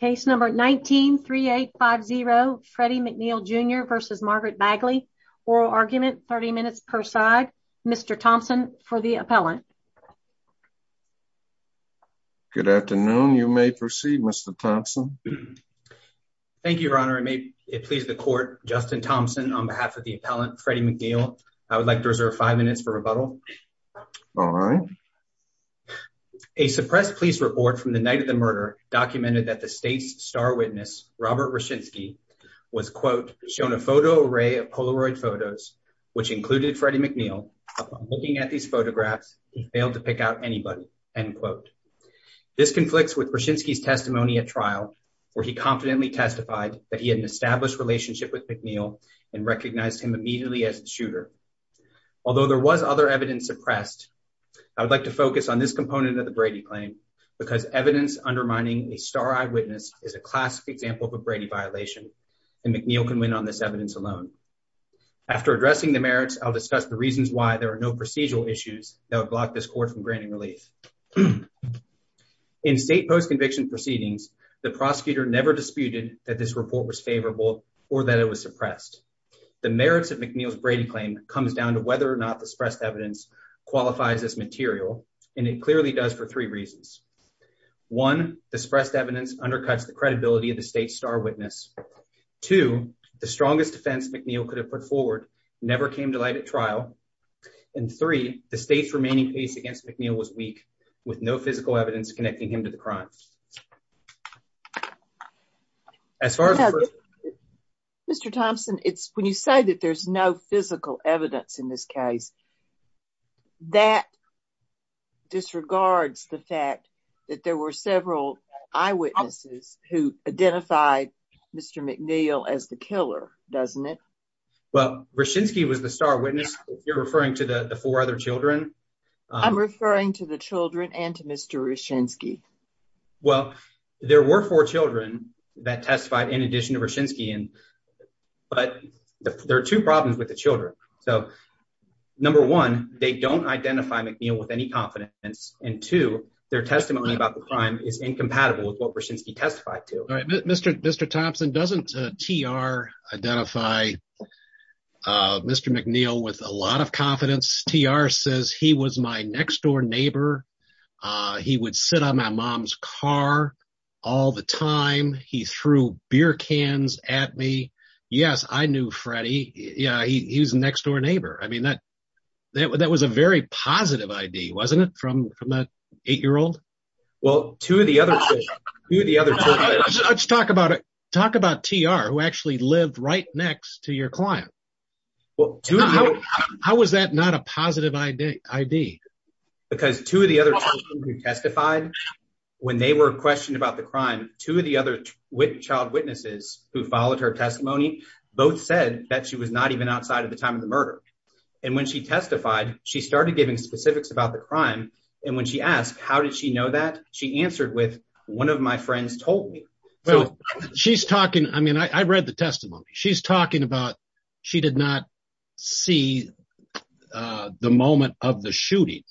Case number 19 3850 Freddie McNeill Jr versus Margaret Bagley. Oral argument. 30 minutes per side. Mr Thompson for the appellant. Good afternoon. You may proceed, Mr Thompson. Thank you, Your Honor. I may please the court. Justin Thompson on behalf of the appellant Freddie McNeill. I would like to reserve five minutes for rebuttal. All right, a suppressed police report from the night of the murder documented that the state's star witness, Robert Roshinsky, was, quote, shown a photo array of Polaroid photos, which included Freddie McNeill. Looking at these photographs, he failed to pick out anybody, end quote. This conflicts with Roshinsky's testimony at trial, where he confidently testified that he had an established relationship with McNeill and recognized him immediately as a shooter. Although there was other evidence suppressed, I would like to focus on this component of the Brady claim because evidence undermining a star eyed witness is a classic example of a Brady violation, and McNeill can win on this evidence alone. After addressing the merits, I'll discuss the reasons why there are no procedural issues that would block this court from granting relief. In state post conviction proceedings, the prosecutor never disputed that this report was favorable or that it was suppressed. The merits of McNeill's Brady claim comes down to whether or not the suppressed evidence qualifies as material, and it clearly does for three reasons. One, the suppressed evidence undercuts the credibility of the state star witness. Two, the strongest defense McNeill could have put forward never came to light at trial. And three, the state's remaining case against McNeill was weak, with no physical evidence connecting him to the crime. As far as Mr Thompson, it's when you say that there's no physical evidence in this case. That disregards the fact that there were several eyewitnesses who identified Mr McNeill as the killer, doesn't it? Well, Roshinsky was the star witness. You're referring to the four other Children. I'm referring to the Children and to Mr Roshinsky. Well, there were four Children that testified in addition to Roshinsky, but there are two problems with the Children. So, number one, they don't identify McNeill with any confidence, and two, their testimony about the crime is incompatible with what Roshinsky testified to. All right, Mr Thompson, doesn't T. R. Identify Mr McNeill with a lot of confidence? T. R. Says he was my next door neighbor. He would sit on my mom's car all the time. He threw beer cans at me. Yes, I knew Freddy. Yeah, he was next door neighbor. I mean, that that was a very positive I. D. Wasn't it from from that eight year old? Well, to the other two the other. Let's talk about it. Talk about T. R. Who actually lived right next to your client. Well, how was that not a positive I. D. I. D. Because two of the other testified when they were questioned about the crime. Two of the other with child witnesses who followed her testimony both said that she was not even outside of the time of the murder. And when she testified, she started giving specifics about the crime. And when she asked, How did she know that? She answered with one of my friends told me she's talking. I mean, I read the testimony she's talking about. She did not see the moment of the shooting.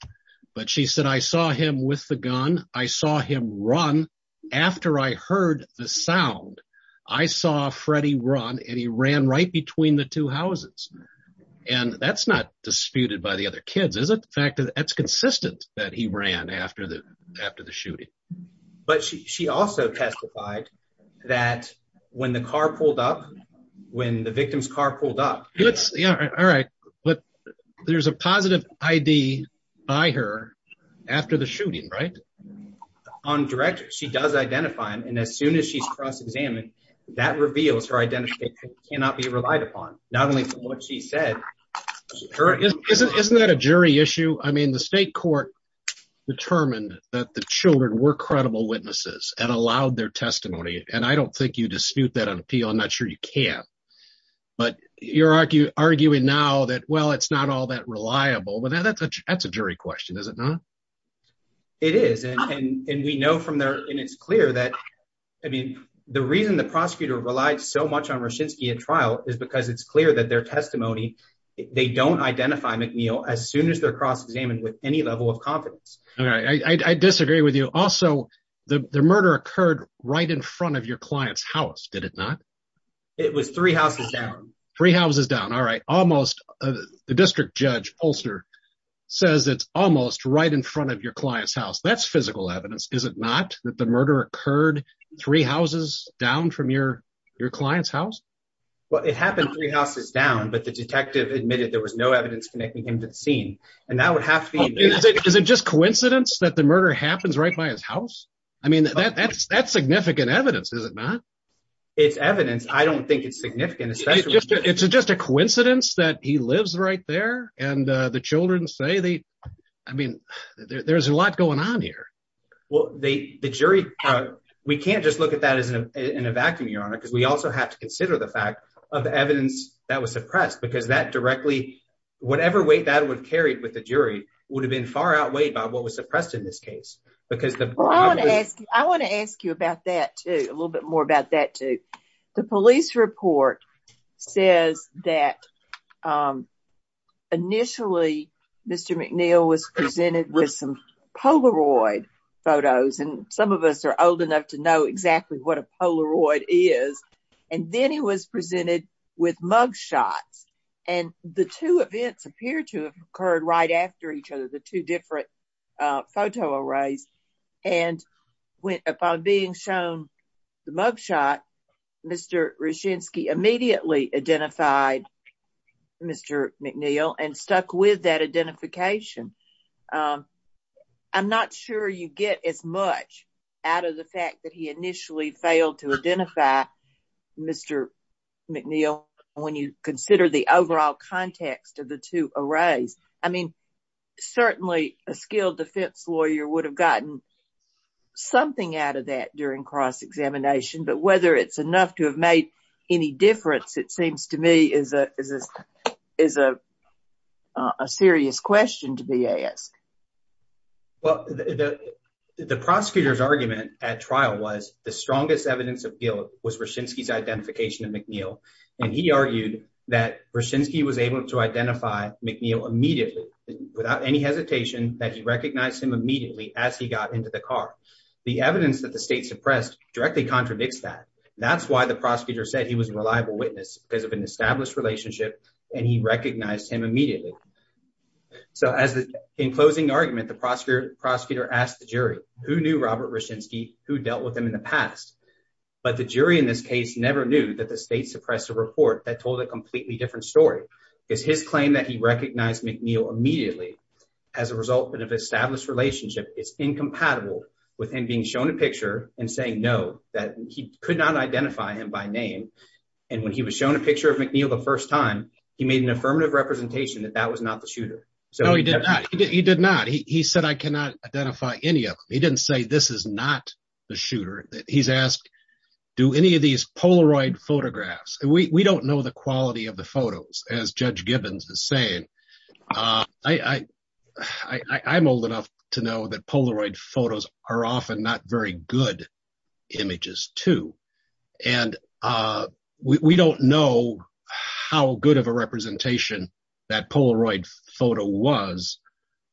But she said, I saw him with the gun. I saw him run after I heard the sound. I saw Freddy run and he ran right between the two houses. And that's not disputed by the other kids, is it? The fact that that's consistent that he ran after the after the shooting. But she also testified that when the car pulled up, when the victim's car pulled up, it's all right. But there's a positive I. D. By her after the shooting, right on director. She does identify him. And as soon as she's cross examined, that reveals her identity cannot be relied upon. Not only what she said, isn't that a jury issue? I mean, the state court determined that the Children were credible witnesses and allowed their testimony. And I don't think you dispute that on appeal. I'm not sure you can. But you're arguing now that, well, it's not all that reliable. But that's a jury question, is it not? It is. And we know from there, and it's clear that I mean, the reason the prosecutor relied so much on Roshinsky at trial is because it's clear that their testimony they don't identify McNeil as soon as their cross examined with any level of confidence. I disagree with you. Also, the murder occurred right in front of your client's house. Did it not? It was three houses down. Three houses down. All right. Almost. The district judge Polster says it's almost right in front of your client's house. That's physical evidence. Is it not that the murder occurred three houses down from your your client's house? Well, it happened three houses down, but the detective admitted there was no evidence connecting him to the scene, and that would have to be. Is it just coincidence that the murder happens right by his house? I mean, that's that's significant evidence. Is it not? It's evidence. I don't think it's significant. It's just a coincidence that he lives right there. And the Children say they I mean, there's a lot going on here. Well, the jury, we can't just look at that as in a vacuum, Your Honor, because we also have to consider the fact of evidence that was suppressed because that directly whatever weight that would carry with the jury would have been far outweighed by what was suppressed in this case because I want to ask you about that, a little bit more about that, too. The police report says that, um, initially, Mr McNeil was presented with some Polaroid photos, and some of us are old enough to know exactly what a Polaroid is. And then he was presented with mug shots, and the two events appear to occurred right after each other, the two different photo arrays. And upon being shown the mug shot, Mr Regency immediately identified Mr McNeil and stuck with that identification. Um, I'm not sure you get as much out of the fact that he initially failed to identify Mr McNeil. When you consider the overall context of the two arrays, I mean, certainly a skilled defense lawyer would have gotten something out of that during cross examination. But whether it's enough to have made any difference, it seems to me is a is a serious question to be asked. Well, the prosecutor's argument at trial was the strongest evidence of Roshinsky's identification of McNeil, and he argued that Roshinsky was able to identify McNeil immediately without any hesitation that he recognized him immediately as he got into the car. The evidence that the state suppressed directly contradicts that. That's why the prosecutor said he was a reliable witness because of an established relationship, and he recognized him immediately. So as in closing argument, the prosecutor prosecutor asked the jury who knew Robert Roshinsky who dealt with him in the past. But the jury in this case never knew that the state suppressed a report that told a completely different story is his claim that he recognized McNeil immediately as a result of established relationship is incompatible with him being shown a picture and saying no, that he could not identify him by name. And when he was shown a picture of McNeil the first time, he made an affirmative representation that that was not the shooter. So he did not. He did not. He said, I cannot identify any of them. He didn't say this is not the shooter. He's asked, do any of these Polaroid photographs? We don't know the quality of the photos as Judge Gibbons is saying. Uh, I, I, I'm old enough to know that Polaroid photos are often not very good images, too. And, uh, we don't know how good of a representation that Polaroid photo was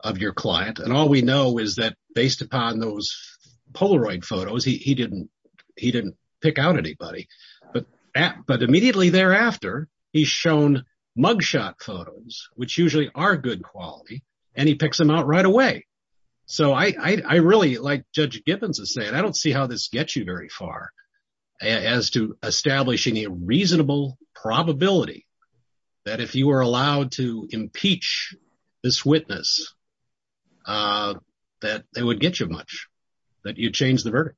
of your client. And all we know is that based upon those Polaroid photos, he didn't, he didn't pick out anybody. But, but immediately thereafter, he's shown mug shot photos, which usually are good quality, and he picks them out right away. So I, I really like Judge Gibbons is saying, I don't see how this gets you very far as to establishing a reasonable probability that if you were that they would get you much that you change the verdict.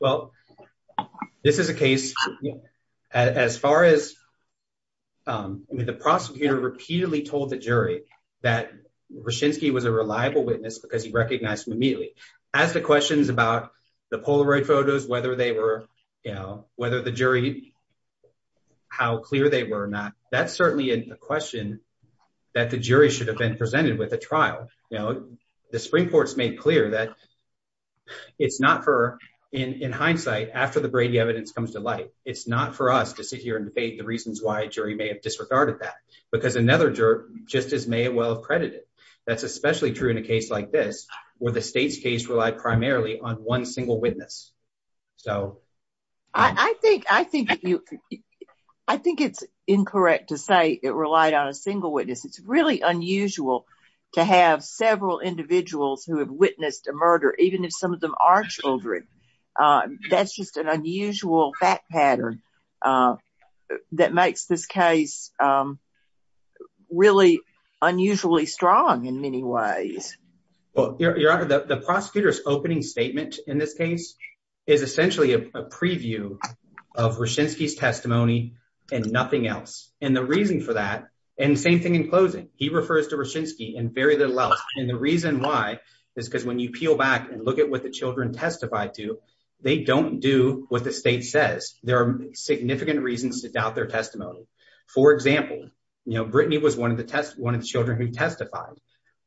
Well, this is a case as far as, um, I mean, the prosecutor repeatedly told the jury that Roshinsky was a reliable witness because he recognized him immediately as the questions about the Polaroid photos, whether they were, you know, whether the jury how clear they were not. That's certainly a question that the jury should have been presented with a trial. Now, the Supreme Court's made clear that it's not for, in hindsight, after the Brady evidence comes to light, it's not for us to sit here and debate the reasons why a jury may have disregarded that because another juror just as may well have credited. That's especially true in a case like this, where the state's case relied primarily on one single witness. So I think, I think, I think it's incorrect to say it relied on a single witness. It's really unusual to have several individuals who have witnessed a murder, even if some of them are Children. Uh, that's just an unusual fact pattern, uh, that makes this case, um, really unusually strong in many ways. Well, your honor, the prosecutor's opening statement in this case is essentially a preview of nothing else. And the reason for that and same thing in closing, he refers to Roshinsky and very little else. And the reason why is because when you peel back and look at what the Children testified to, they don't do what the state says. There are significant reasons to doubt their testimony. For example, you know, Brittany was one of the test. One of the Children who testified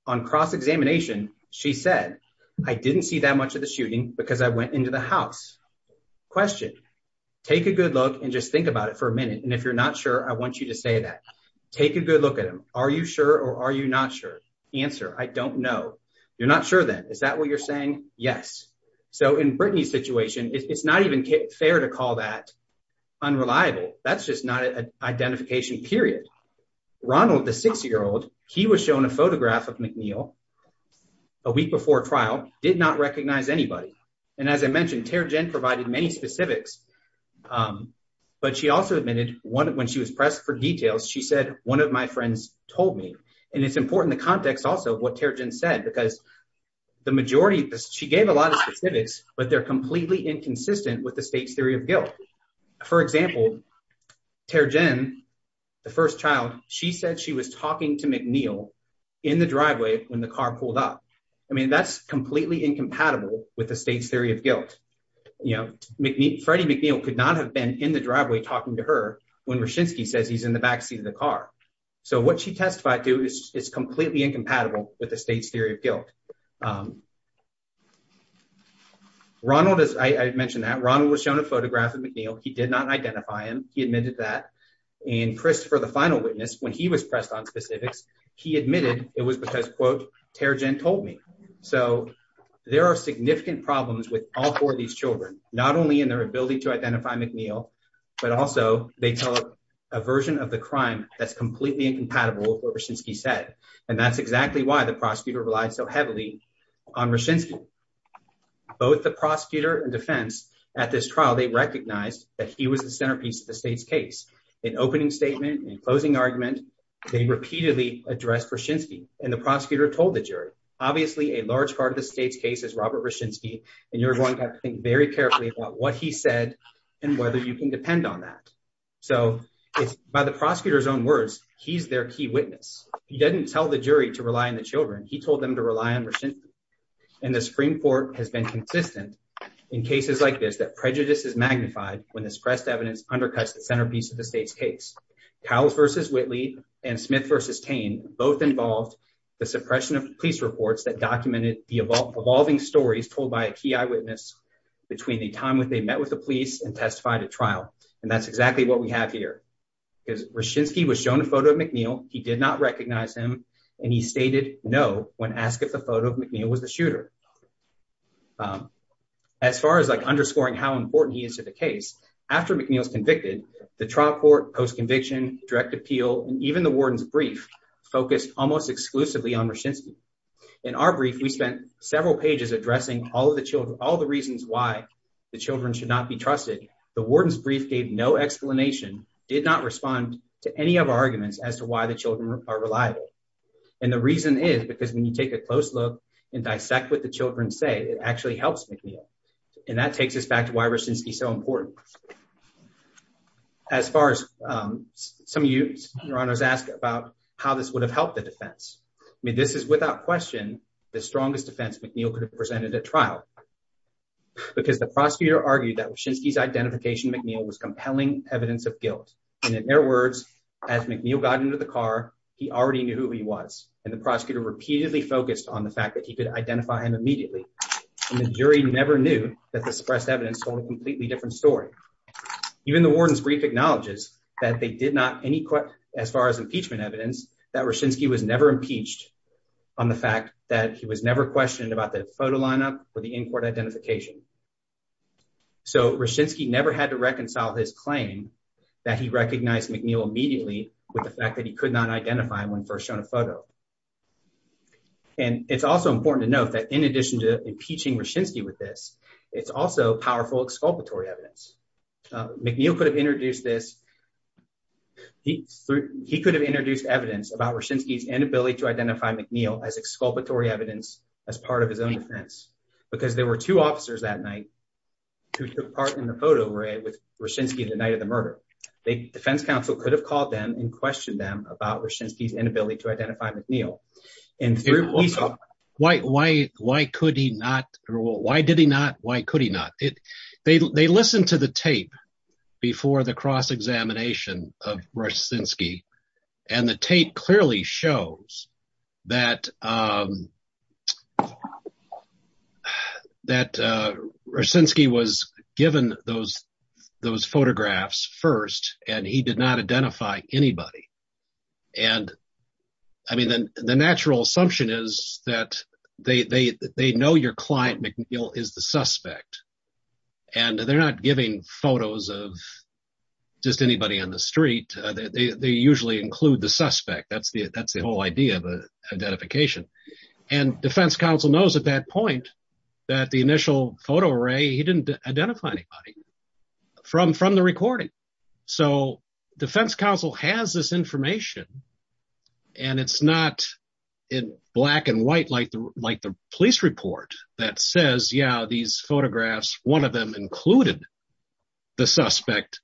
on cross examination, she said, I didn't see that much of the shooting because I went into the house question, take a good look and just think about it for a minute. And if you're not sure, I want you to say that. Take a good look at him. Are you sure? Or are you not sure answer? I don't know. You're not sure that is that what you're saying? Yes. So in Brittany's situation, it's not even fair to call that unreliable. That's just not an identification period. Ronald, the six year old, he was shown a photograph of McNeil a week before trial, did not recognize anybody. And as I mentioned, tear Jen provided many specifics. Um, but she also admitted one when she was pressed for details, she said, one of my friends told me, and it's important the context also what tear Jen said, because the majority, she gave a lot of specifics, but they're completely inconsistent with the state's theory of guilt. For example, tear Jen, the first child, she said she was talking to McNeil in the driveway when the car pulled up. I mean, that's completely incompatible with the state's theory of guilt. You know, Freddie McNeil could not have been in the driveway talking to her when Roshinsky says he's in the backseat of the car. So what she testified to is it's completely incompatible with the state's theory of guilt. Um, Ronald, as I mentioned that Ronald was shown a photograph of McNeil. He did not identify him. He admitted that in Christopher, the final witness when he was pressed on specifics, he admitted it was because, quote, tear Jen told me. So there are significant problems with all four of these Children, not only in their ability to identify McNeil, but also they tell a version of the crime that's completely incompatible with what Roshinsky said. And that's exactly why the prosecutor relied so heavily on Roshinsky. Both the prosecutor and defense at this trial, they recognized that he was the centerpiece of the state's case. In opening statement and closing argument, they repeatedly addressed Roshinsky, and the prosecutor told the jury. Obviously, a large part of the state's case is Robert Roshinsky, and you're going to have to think very carefully about what he said and whether you can depend on that. So it's by the prosecutor's own words. He's their key witness. He didn't tell the jury to rely on the Children. He told them to rely on Russian, and the Supreme Court has been consistent in cases like this, that prejudice is magnified when this pressed evidence undercuts the centerpiece of the state's case. Cowles v. Whitley and Smith v. Tain both involved the suppression of police reports that documented the evolving stories told by a key eyewitness between the time when they met with the police and testified at trial. And that's exactly what we have here, because Roshinsky was shown a photo of McNeil. He did not recognize him, and he stated no when asked if the photo of McNeil was the shooter. As far as like underscoring how important he is to the case, after McNeil's convicted, the trial court post conviction, direct appeal and even the warden's brief focused almost exclusively on Roshinsky. In our brief, we spent several pages addressing all of the Children, all the reasons why the Children should not be trusted. The warden's brief gave no explanation, did not respond to any of our arguments as to why the Children are reliable. And the reason is because when you take a close look and dissect with the Children say it actually helps McNeil. And that takes us back to why Roshinsky is so important. As far as, um, some of you, Your Honor, have asked about how this would have helped the defense. I mean, this is without question the strongest defense McNeil could have presented at trial because the prosecutor argued that Roshinsky's identification McNeil was compelling evidence of guilt. And in their words, as McNeil got into the car, he already knew who he was, and the prosecutor repeatedly focused on the fact that he could identify him completely different story. Even the warden's brief acknowledges that they did not any, as far as impeachment evidence, that Roshinsky was never impeached on the fact that he was never questioned about the photo lineup or the in court identification. So Roshinsky never had to reconcile his claim that he recognized McNeil immediately with the fact that he could not identify him when first shown a photo. And it's also important to note that in addition to impeaching Roshinsky with this, it's also powerful exculpatory evidence. McNeil could have introduced this. He could have introduced evidence about Roshinsky's inability to identify McNeil as exculpatory evidence as part of his own defense because there were two officers that night who took part in the photo array with Roshinsky the night of the murder. The defense counsel could have called them and questioned them about Roshinsky's inability to identify McNeil. And why? Why? Why could he not? Why did he not? Why could he not? They listened to the tape before the cross-examination of Roshinsky. And the tape clearly shows that that Roshinsky was given those, those photographs first, and he did not identify anybody. And I mean, the natural assumption is that they, they, they know your client McNeil is the suspect. And they're not giving photos of just anybody on the street. They usually include the suspect. That's the, that's the whole idea of identification. And defense counsel knows at that point, that the initial photo array, he didn't identify anybody from from the recording. So defense counsel has this information. And it's not in black and white, like the like the police report that says, yeah, these photographs, one of them included the suspect,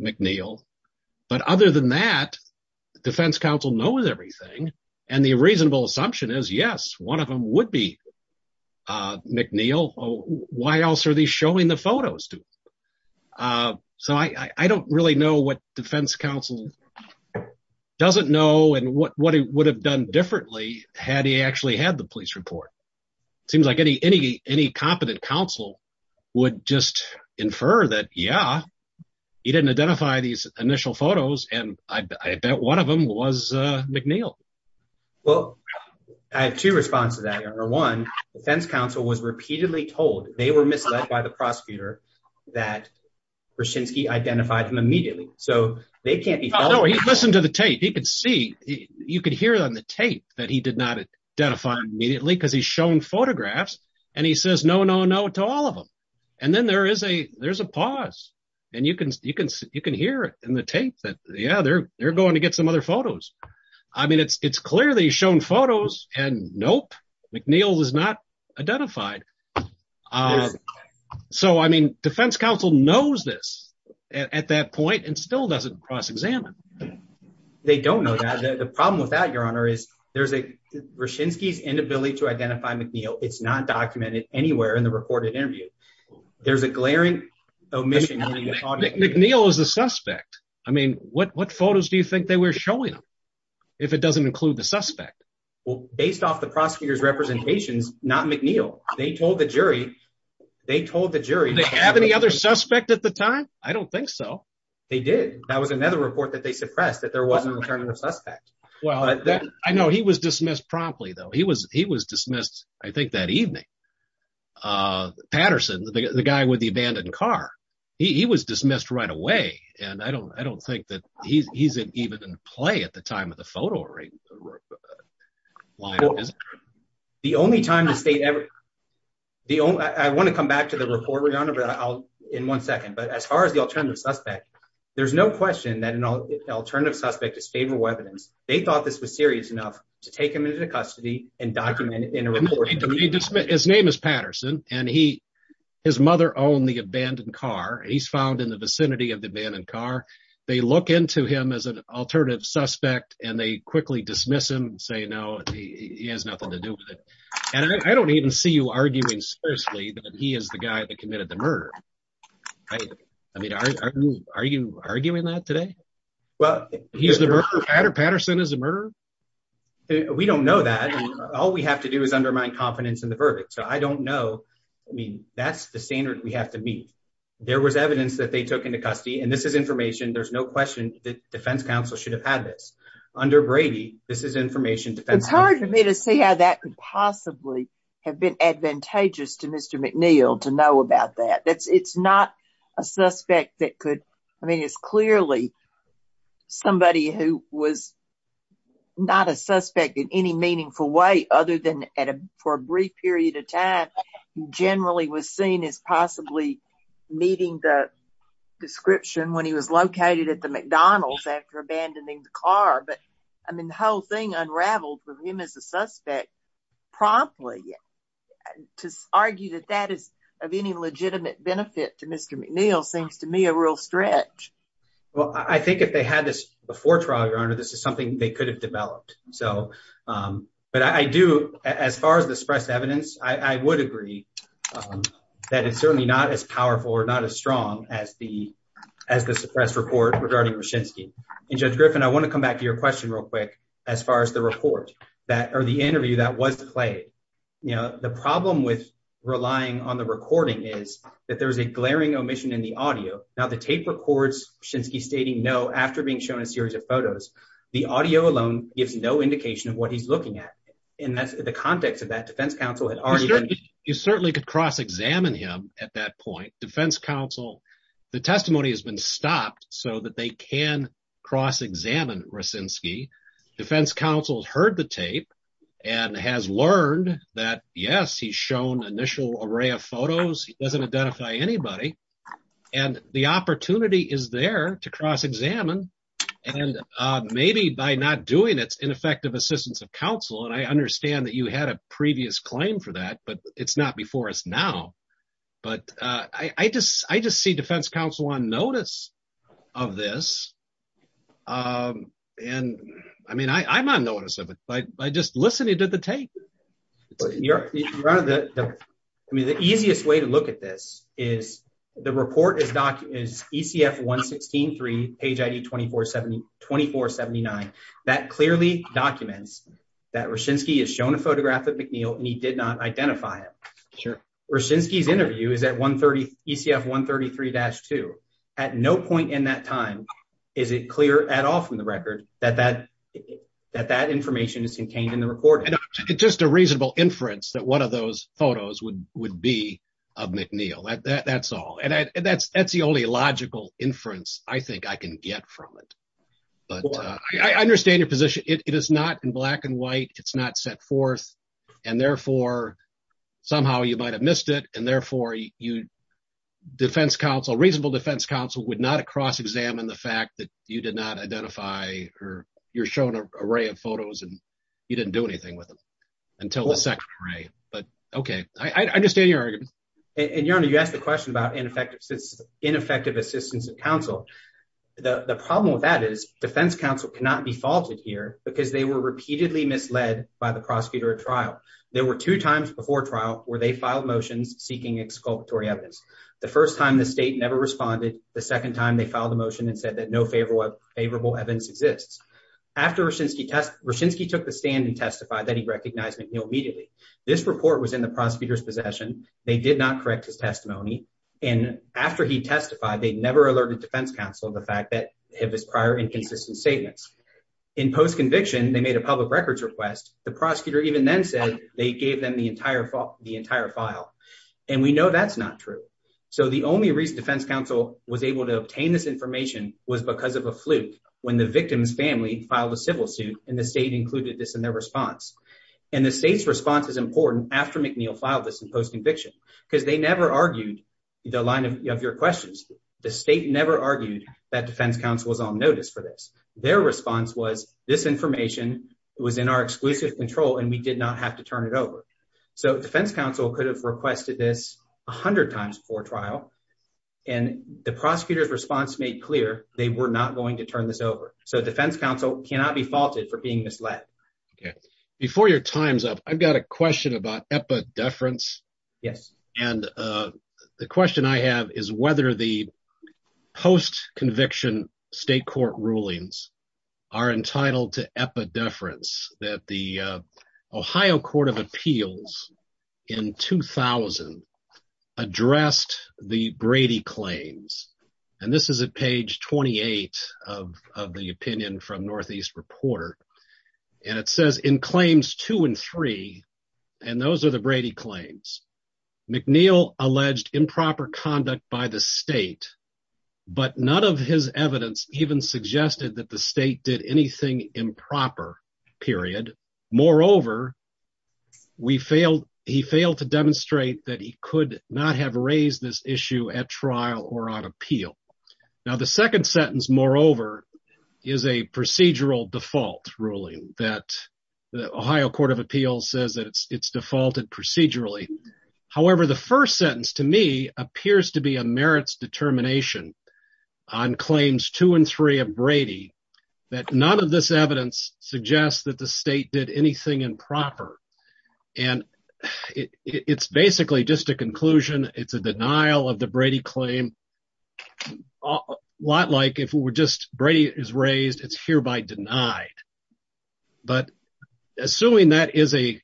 McNeil. But other than that, defense counsel knows everything. And the reasonable assumption is yes, one of them would be McNeil. Why else are they showing the no, and what it would have done differently had he actually had the police report? It seems like any, any, any competent counsel would just infer that yeah, he didn't identify these initial photos. And I bet one of them was McNeil. Well, I have two responses to that. Number one, defense counsel was repeatedly told they were misled by the prosecutor, that Roshinsky identified them immediately. So they can't be followed. No, he listened to the tape, he could see, you could hear on the tape that he did not identify immediately because he's shown photographs. And he says no, no, no to all of them. And then there is a there's a pause. And you can, you can, you can hear it in the tape that the other they're going to get some other photos. I mean, it's it's clearly shown photos and nope, McNeil was not at that point and still doesn't cross examine. They don't know that the problem with that your honor is there's a Roshinsky's inability to identify McNeil. It's not documented anywhere in the recorded interview. There's a glaring omission. McNeil is the suspect. I mean, what, what photos do you think they were showing him if it doesn't include the suspect? Well, based off the prosecutor's representations, not McNeil, they told the jury, they told the jury, they have any other suspect at the time. I don't think so. They did. That was another report that they suppressed that there wasn't returning the suspect. Well, I know he was dismissed promptly though. He was, he was dismissed, I think that evening. Uh, Patterson, the guy with the abandoned car, he was dismissed right away. And I don't, I don't think that he's, he's uh, the only time the state ever, the only, I want to come back to the report regarding in one second. But as far as the alternative suspect, there's no question that an alternative suspect is favorable evidence. They thought this was serious enough to take him into custody and document in a report. His name is Patterson and he, his mother owned the abandoned car. He's found in the vicinity of the abandoned car. They look into him as an alternative suspect and they quickly dismiss him and say, no, he has nothing to do with it. And I don't even see you arguing seriously that he is the guy that committed the murder. I mean, are you, are you arguing that today? Well, he's the murderer. Patterson is a murderer. We don't know that. All we have to do is undermine confidence in the verdict. So I don't know. I mean, that's the standard we have to meet. There was evidence that they took into custody and this is information. There's no question that defense counsel should have had this under brady. This is information. It's hard for me to see how that could possibly have been advantageous to Mr McNeil to know about that. That's it's not a suspect that could, I mean it's clearly somebody who was not a suspect in any meaningful way other than at a for a brief period of time generally was seen as possibly meeting the description when he was in the car. But I mean the whole thing unraveled with him as a suspect promptly to argue that that is of any legitimate benefit to Mr McNeil seems to me a real stretch. Well, I think if they had this before trial, your honor, this is something they could have developed. So, um, but I do as far as the suppressed evidence, I would agree that it's certainly not as powerful or not as strong as the, as the suppressed report regarding machinsky and judge Griffin. I want to come back to your question real quick. As far as the report that or the interview that was played, you know, the problem with relying on the recording is that there is a glaring omission in the audio. Now the tape records since he's stating no. After being shown a series of photos, the audio alone gives no indication of what he's looking at. And that's the context of that defense counsel. You certainly could cross examine him at that point. Defense counsel, the testimony has been stopped so that they can cross examine racinski. Defense counsel has heard the tape and has learned that yes, he's shown initial array of photos. He doesn't identify anybody and the opportunity is there to cross examine and maybe by not doing its ineffective assistance of counsel. And I understand that you had a previous claim for that, but it's not before us now. But I just, I just see defense counsel on notice of this. Um, and I mean, I'm on notice of it by just listening to the tape. You're running the, I mean, the easiest way to look at this is the report is doc is E. C. F. 1 16 3 page I. D. 24 70 24 79. That clearly documents that racinski is shown a photograph of McNeil and he did not identify it. Sure. Racinski's interview is at 1 30 E. C. F. 1 33-2 at no point in that time. Is it clear at all from the record that that that that information is contained in the recording? It's just a reasonable inference that one of those photos would would be of McNeil. That's all. And that's that's the only logical inference I think I can get from it. But I understand your position. It is not in black and white. It's not set forth and therefore somehow you might have missed it and therefore you defense counsel, reasonable defense counsel would not cross examine the fact that you did not identify or you're showing an array of photos and you didn't do anything with them until the second array. But okay, I understand your argument and you're on. You asked the question about ineffective, ineffective assistance of counsel. The problem with that is defense counsel cannot be There were two times before trial where they filed motions seeking exculpatory evidence. The first time the state never responded. The second time they filed a motion and said that no favorable favorable evidence exists after Racinski. Racinski took the stand and testified that he recognized McNeil immediately. This report was in the prosecutor's possession. They did not correct his testimony. And after he testified, they never alerted defense counsel. The fact that his prior inconsistent statements in post or even then said they gave them the entire the entire file. And we know that's not true. So the only reason defense counsel was able to obtain this information was because of a fluke when the victim's family filed a civil suit and the state included this in their response. And the state's response is important after McNeil filed this in post conviction because they never argued the line of your questions. The state never argued that defense counsel was on notice for this. Their response was this information was in our exclusive control and we did not have to turn it over. So defense counsel could have requested this 100 times before trial and the prosecutor's response made clear they were not going to turn this over. So defense counsel cannot be faulted for being misled before your time's up. I've got a question about epi deference. Yes. And uh the question I have is whether the post conviction state court rulings are entitled to epi deference that the Ohio Court of Appeals in 2000 addressed the Brady claims. And this is a page 28 of the opinion from Northeast Reporter. And it says in claims two and three and those are the Brady claims. McNeil alleged improper conduct by the state but none of his evidence even suggested that the state did anything improper period. Moreover we failed, he failed to demonstrate that he could not have raised this issue at trial or on appeal. Now the second sentence more over is a procedural default ruling that the Ohio Court of Appeals says that it's it's defaulted procedurally. However the first sentence to me appears to be a merits determination on claims two and three of Brady that none of this evidence suggests that the state did anything improper. And it's basically just a conclusion. It's a denial of the Brady claim. A lot like if we were just Brady is raised, it's hereby denied. But assuming that is a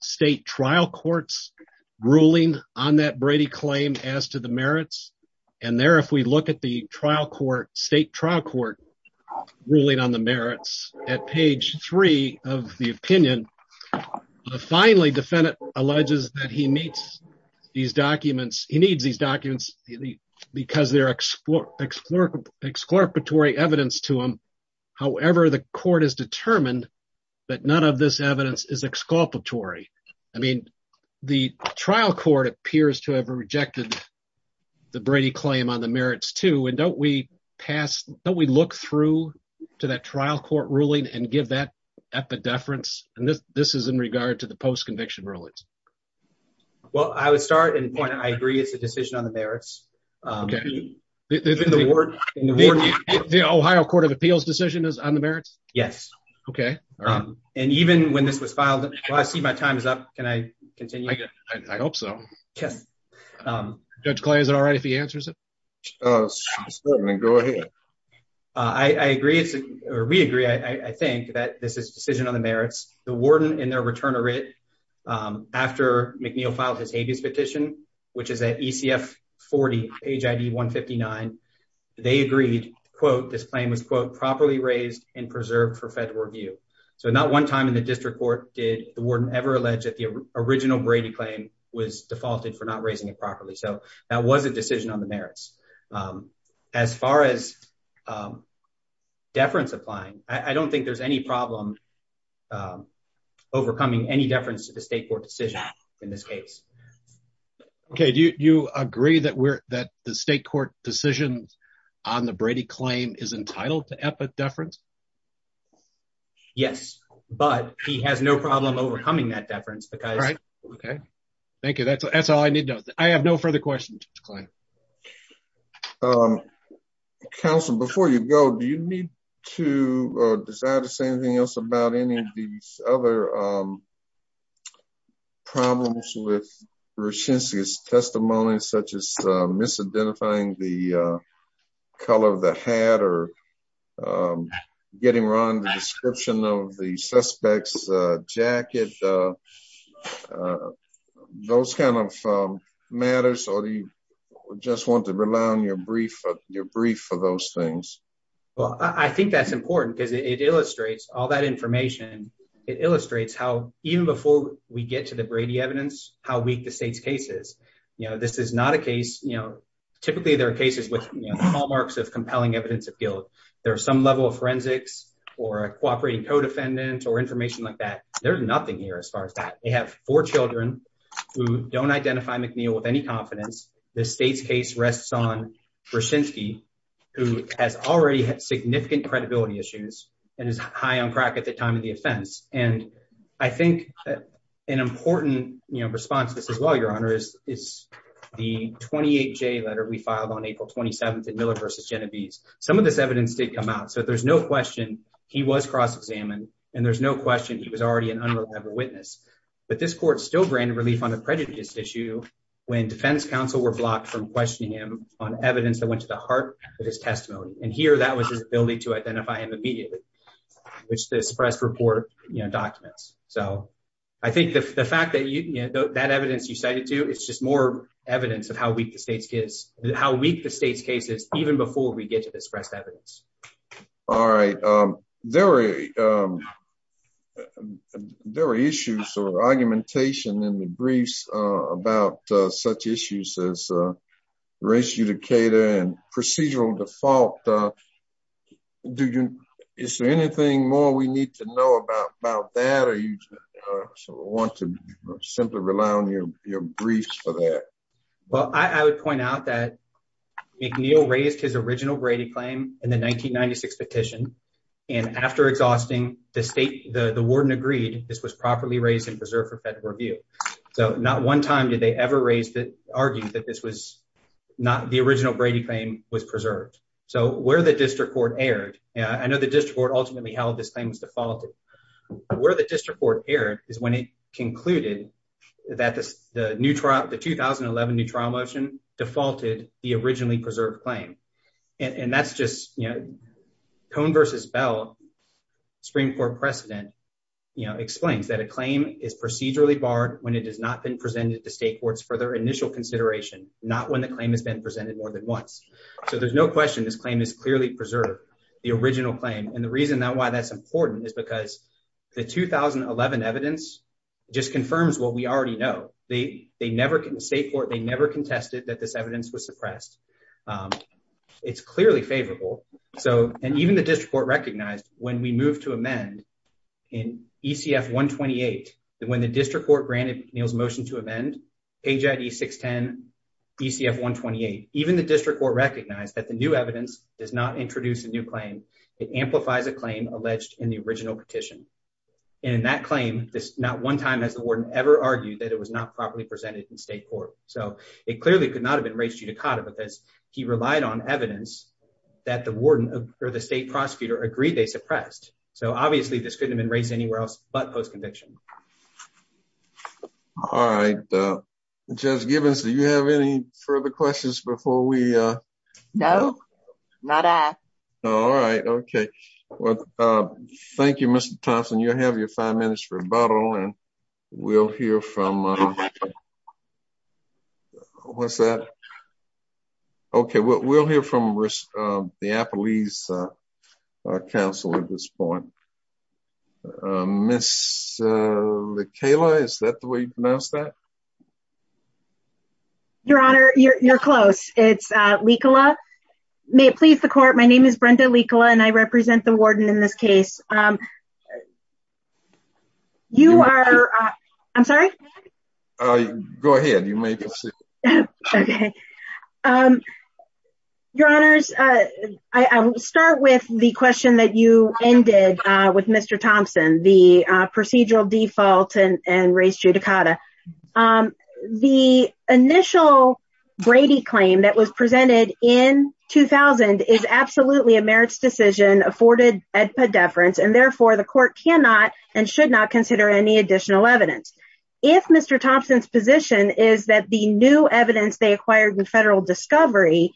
state trial courts ruling on that Brady claim as to the merits. And there if we look at the trial court, state trial court ruling on the merits at page three of the opinion, finally defendant alleges that he meets these documents. He needs these documents because they're exploratory, exploratory evidence to him. However, the court has determined that none of this evidence is exploratory. I mean, the trial court appears to have rejected the Brady claim on the merits too. And don't we pass, don't we look through to that trial court ruling and give that at the deference. And this is in regard to the post conviction rulings. Well, I would start and point out, I agree. It's a decision on the merits. Um, in the word, the Ohio Court of Appeals decision is on the merits. Yes. Okay. Um, and even when this was filed, I see my time is up. Can I continue? I hope so. Yes. Um, Judge Clay, is it all right if he answers it? Uh, go ahead. I agree. It's a re agree. I think that this is a decision on the merits. The warden in their return of writ, um, after McNeil filed his habeas petition, which is at E. C. F. 40 page I. D. 1 59. They agreed, quote, this claim was, quote, properly raised and preserved for federal review. So not one time in the district court did the warden ever alleged that the original Brady claim was defaulted for not raising it properly. So that was a decision on the merits. Um, as far as, um, deference applying, I don't think there's any problem, um, overcoming any deference to the state court decision in this case. Okay. Do you agree that we're that the Brady claim is entitled to effort deference? Yes, but he has no problem overcoming that deference because, okay, thank you. That's that's all I need. I have no further questions. Um, Council, before you go, do you need to decide to say anything else about any of these other, um, problems with recency's testimonies, such as misidentifying the color of the hat or, um, getting wrong the description of the suspect's jacket? Uh, uh, those kind of, um, matters. So do you just want to rely on your brief for your brief for those things? Well, I think that's important because it illustrates all that information. It illustrates how even before we get to the Brady evidence, how weak the state's cases, you know, this is not a case. You know, typically there are cases with hallmarks of compelling evidence of guilt. There are some level of forensics or a cooperating codefendant or information like that. There's nothing here. As far as that, they have four Children who don't identify McNeil with any confidence. The state's case rests on Brzezinski, who has already had significant credibility issues and is high on crack at the time of the offense. And I think an important response to this as well, Your Honor, is the 28 J letter we filed on April 27th in Miller versus Genevieve's. Some of this evidence did come out, so there's no question he was cross examined, and there's no question he was already an unreliable witness. But this court still granted relief on the prejudice issue when defense counsel were blocked from questioning him on evidence that went to the heart of his testimony. And here that was his ability to identify him immediately, which this press report documents. So I think the fact that you know that evidence you cited to, it's just more evidence of how weak the state's case, how weak the state's case is even before we get to this pressed evidence. All right. Um, there were, um, there were issues or argumentation in the briefs about such issues as, uh, race, educator and procedural default. Uh, do you Is there anything more we need to know about about that? Are you want to simply rely on your briefs for that? Well, I would point out that McNeil raised his original Brady claim in the 1996 petition, and after exhausting the state, the warden agreed this was properly raised and preserved for federal review. So not one time did they ever raised it argued that this was not the original Brady claim was preserved. So where the district court aired, I know the district court ultimately held this claims defaulted where the district court aired is when it concluded that the new trial, the 2011 new trial motion defaulted the originally preserved claim. And that's just, you know, tone versus Bell Supreme Court precedent explains that a claim is procedurally barred when it has not been presented to state courts for their initial consideration, not when the claim has been presented more than once. So there's no question this clearly preserve the original claim. And the reason that why that's important is because the 2011 evidence just confirms what we already know. They never can state court. They never contested that this evidence was suppressed. Um, it's clearly favorable. So and even the district court recognized when we move to amend in E. C. F. 1 28 when the district court granted Neil's motion to amend H. I. D. 6 10 E. C. F. 1 28. Even the district court recognized that the new evidence does not introduce a new claim. It amplifies a claim alleged in the original petition. And in that claim, this not one time has the warden ever argued that it was not properly presented in state court. So it clearly could not have been raised you to Cotta because he relied on evidence that the warden or the state prosecutor agreed they suppressed. So obviously this could have been raised anywhere else but post conviction. Mhm. All right. Uh, Judge Gibbons, do you have any further questions before we? Uh, no, not at all. All right. Okay. Well, uh, thank you, Mr Thompson. You have your five minutes for a bottle and we'll hear from, uh what's that? Okay, well, we'll hear from, uh, the Apple East, uh, council at this point. Uh, Miss, uh, Kayla, is that the way you pronounce that? Your honor, you're close. It's, uh, legal up. May it please the court. My name is Brenda legal and I represent the warden in this case. Um, you are. I'm sorry. Go ahead. You may proceed. Okay. Um, your honors. Uh, I will start with the question that you ended with Mr Thompson, the procedural default and and race judicata. Um, the initial Brady claim that was presented in 2000 is absolutely a merits decision afforded at the deference and therefore the court cannot and should not consider any additional evidence. If Mr Thompson's position is that the new evidence they acquired with federal discovery,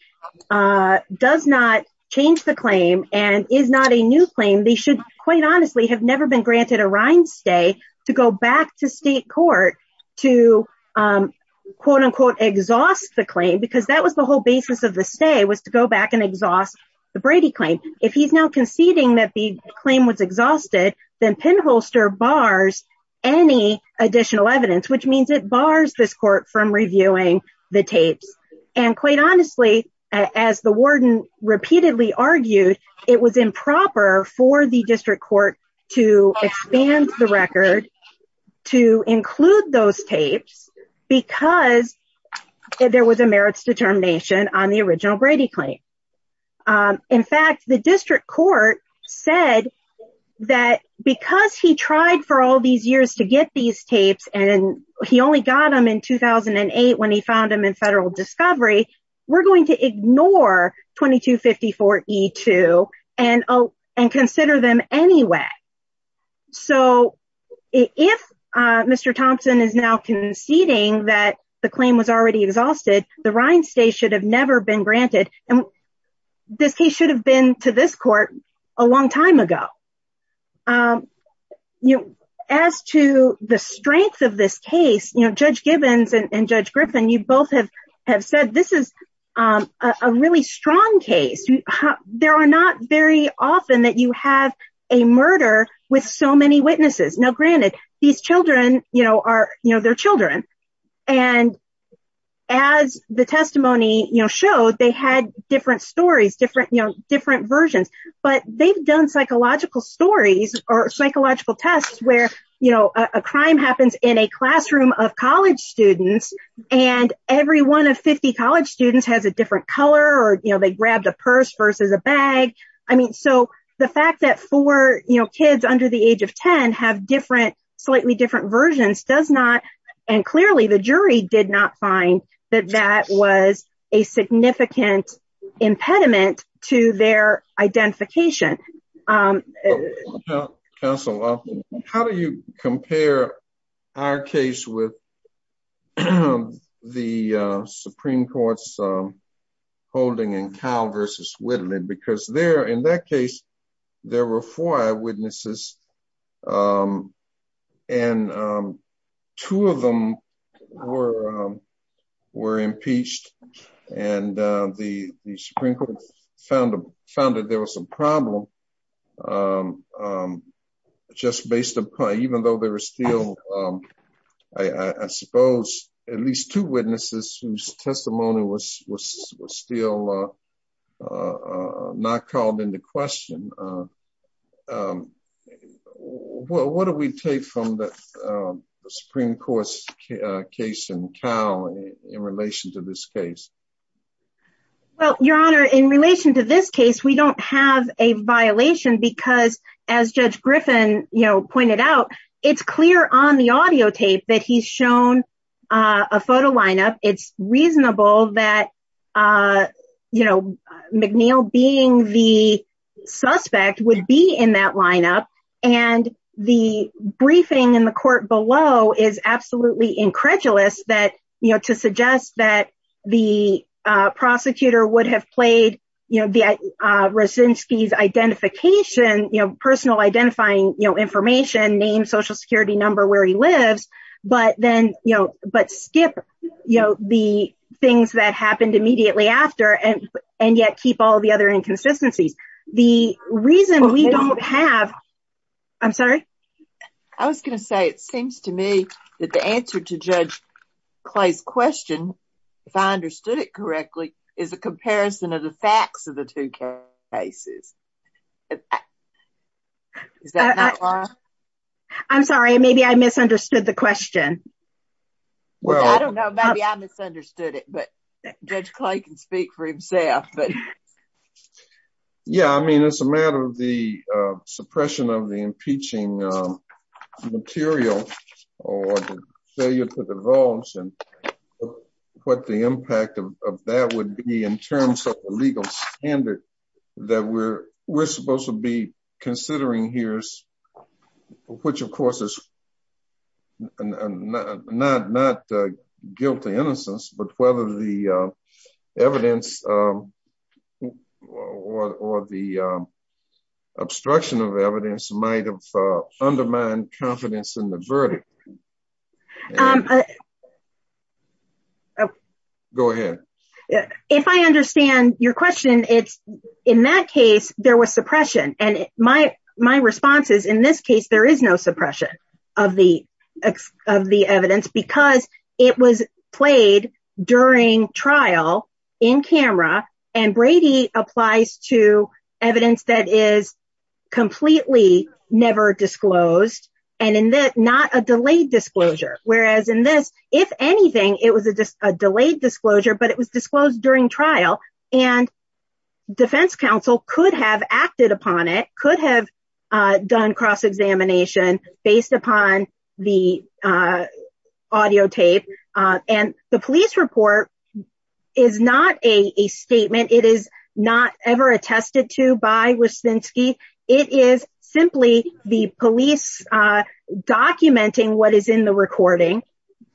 uh, does not change the claim and is not a new claim. They should quite honestly have never been granted a rind stay to go back to state court to, um, quote unquote exhaust the claim because that was the whole basis of the stay was to go back and exhaust the Brady claim. If he's now conceding that the claim was exhausted, then pinholster bars any additional evidence, which means it bars this court from reviewing the tapes. And quite honestly, as the warden repeatedly argued, it was improper for the district court to expand the record to include those tapes because there was a merits determination on the original Brady claim. Um, in fact, the district court said that because he tried for all these years to get these tapes and he only got him in 2008 when he found him in federal discovery, we're going to ignore 22 54 E two and and consider them anyway. So if Mr Thompson is now conceding that the claim was already exhausted, the rind stay should have never been granted. And this case should have been to this court a long time ago. Um, you know, as to the strength of this case, you know, Judge Gibbons and Judge Griffin, you both have have said this is, um, a really strong case. There are not very often that you have a murder with so many witnesses. No, And as the testimony showed, they had different stories, different, you know, different versions. But they've done psychological stories or psychological tests where, you know, a crime happens in a classroom of college students, and every one of 50 college students has a different color or, you know, they grabbed a purse versus a bag. I mean, so the fact that for, you know, kids under the age of 10 have different, slightly different versions does not. And clearly, the jury did not find that that was a significant impediment to their identification. Council, how do you compare our case with the Supreme Court's holding and um, and, um, two of them were, um, were impeached. And the Supreme Court found them found that there was some problem. Um, just based upon even though there was still, um, I suppose, at least two witnesses whose testimony was was still, uh, uh, not called into question. Um, well, what do we take from the Supreme Court's case in Cal in relation to this case? Well, Your Honor, in relation to this case, we don't have a violation because as Judge Griffin, you know, pointed out, it's clear on the audio tape that he's shown, uh, a photo lineup. It's reasonable that, uh, you know, McNeil being the suspect would be in that lineup. And the briefing in the court below is absolutely incredulous that, you know, to suggest that the prosecutor would have played, you know, the, uh, Rosinski's identification, you know, personal identifying, you know, information, name, social security number, where he lives, but then, you know, but skip, you know, the things that happened immediately after and, and yet keep all the other inconsistencies. The reason we don't have, I'm sorry. I was gonna say, it seems to me that the answer to Judge Clay's question, if I understood it correctly, is a comparison of the facts of the two cases. Is that not wrong? I'm sorry. Maybe I misunderstood the question. Well, I don't know. Maybe I misunderstood it, but Judge Clay can speak for himself. But yeah, I mean, it's a matter of the suppression of the impeaching material or the failure to divulge and what the impact of that would be in terms of the we're supposed to be considering here's, which of course is not not guilty innocence, but whether the evidence or the obstruction of evidence might have undermined confidence in the verdict. Go ahead. If I understand your question, it's in that case, there was suppression. And my, my response is, in this case, there is no suppression of the of the evidence because it was played during trial in camera. And Brady applies to evidence that is completely never disclosed. And in that not a delayed disclosure, whereas in this, if anything, it was a delayed disclosure, but it was disclosed during trial. And defense counsel could have acted upon it could have done cross examination based upon the audio tape. And the police report is not a statement, it is not ever attested to by Wisniewski. It is simply the police documenting what is in the recording.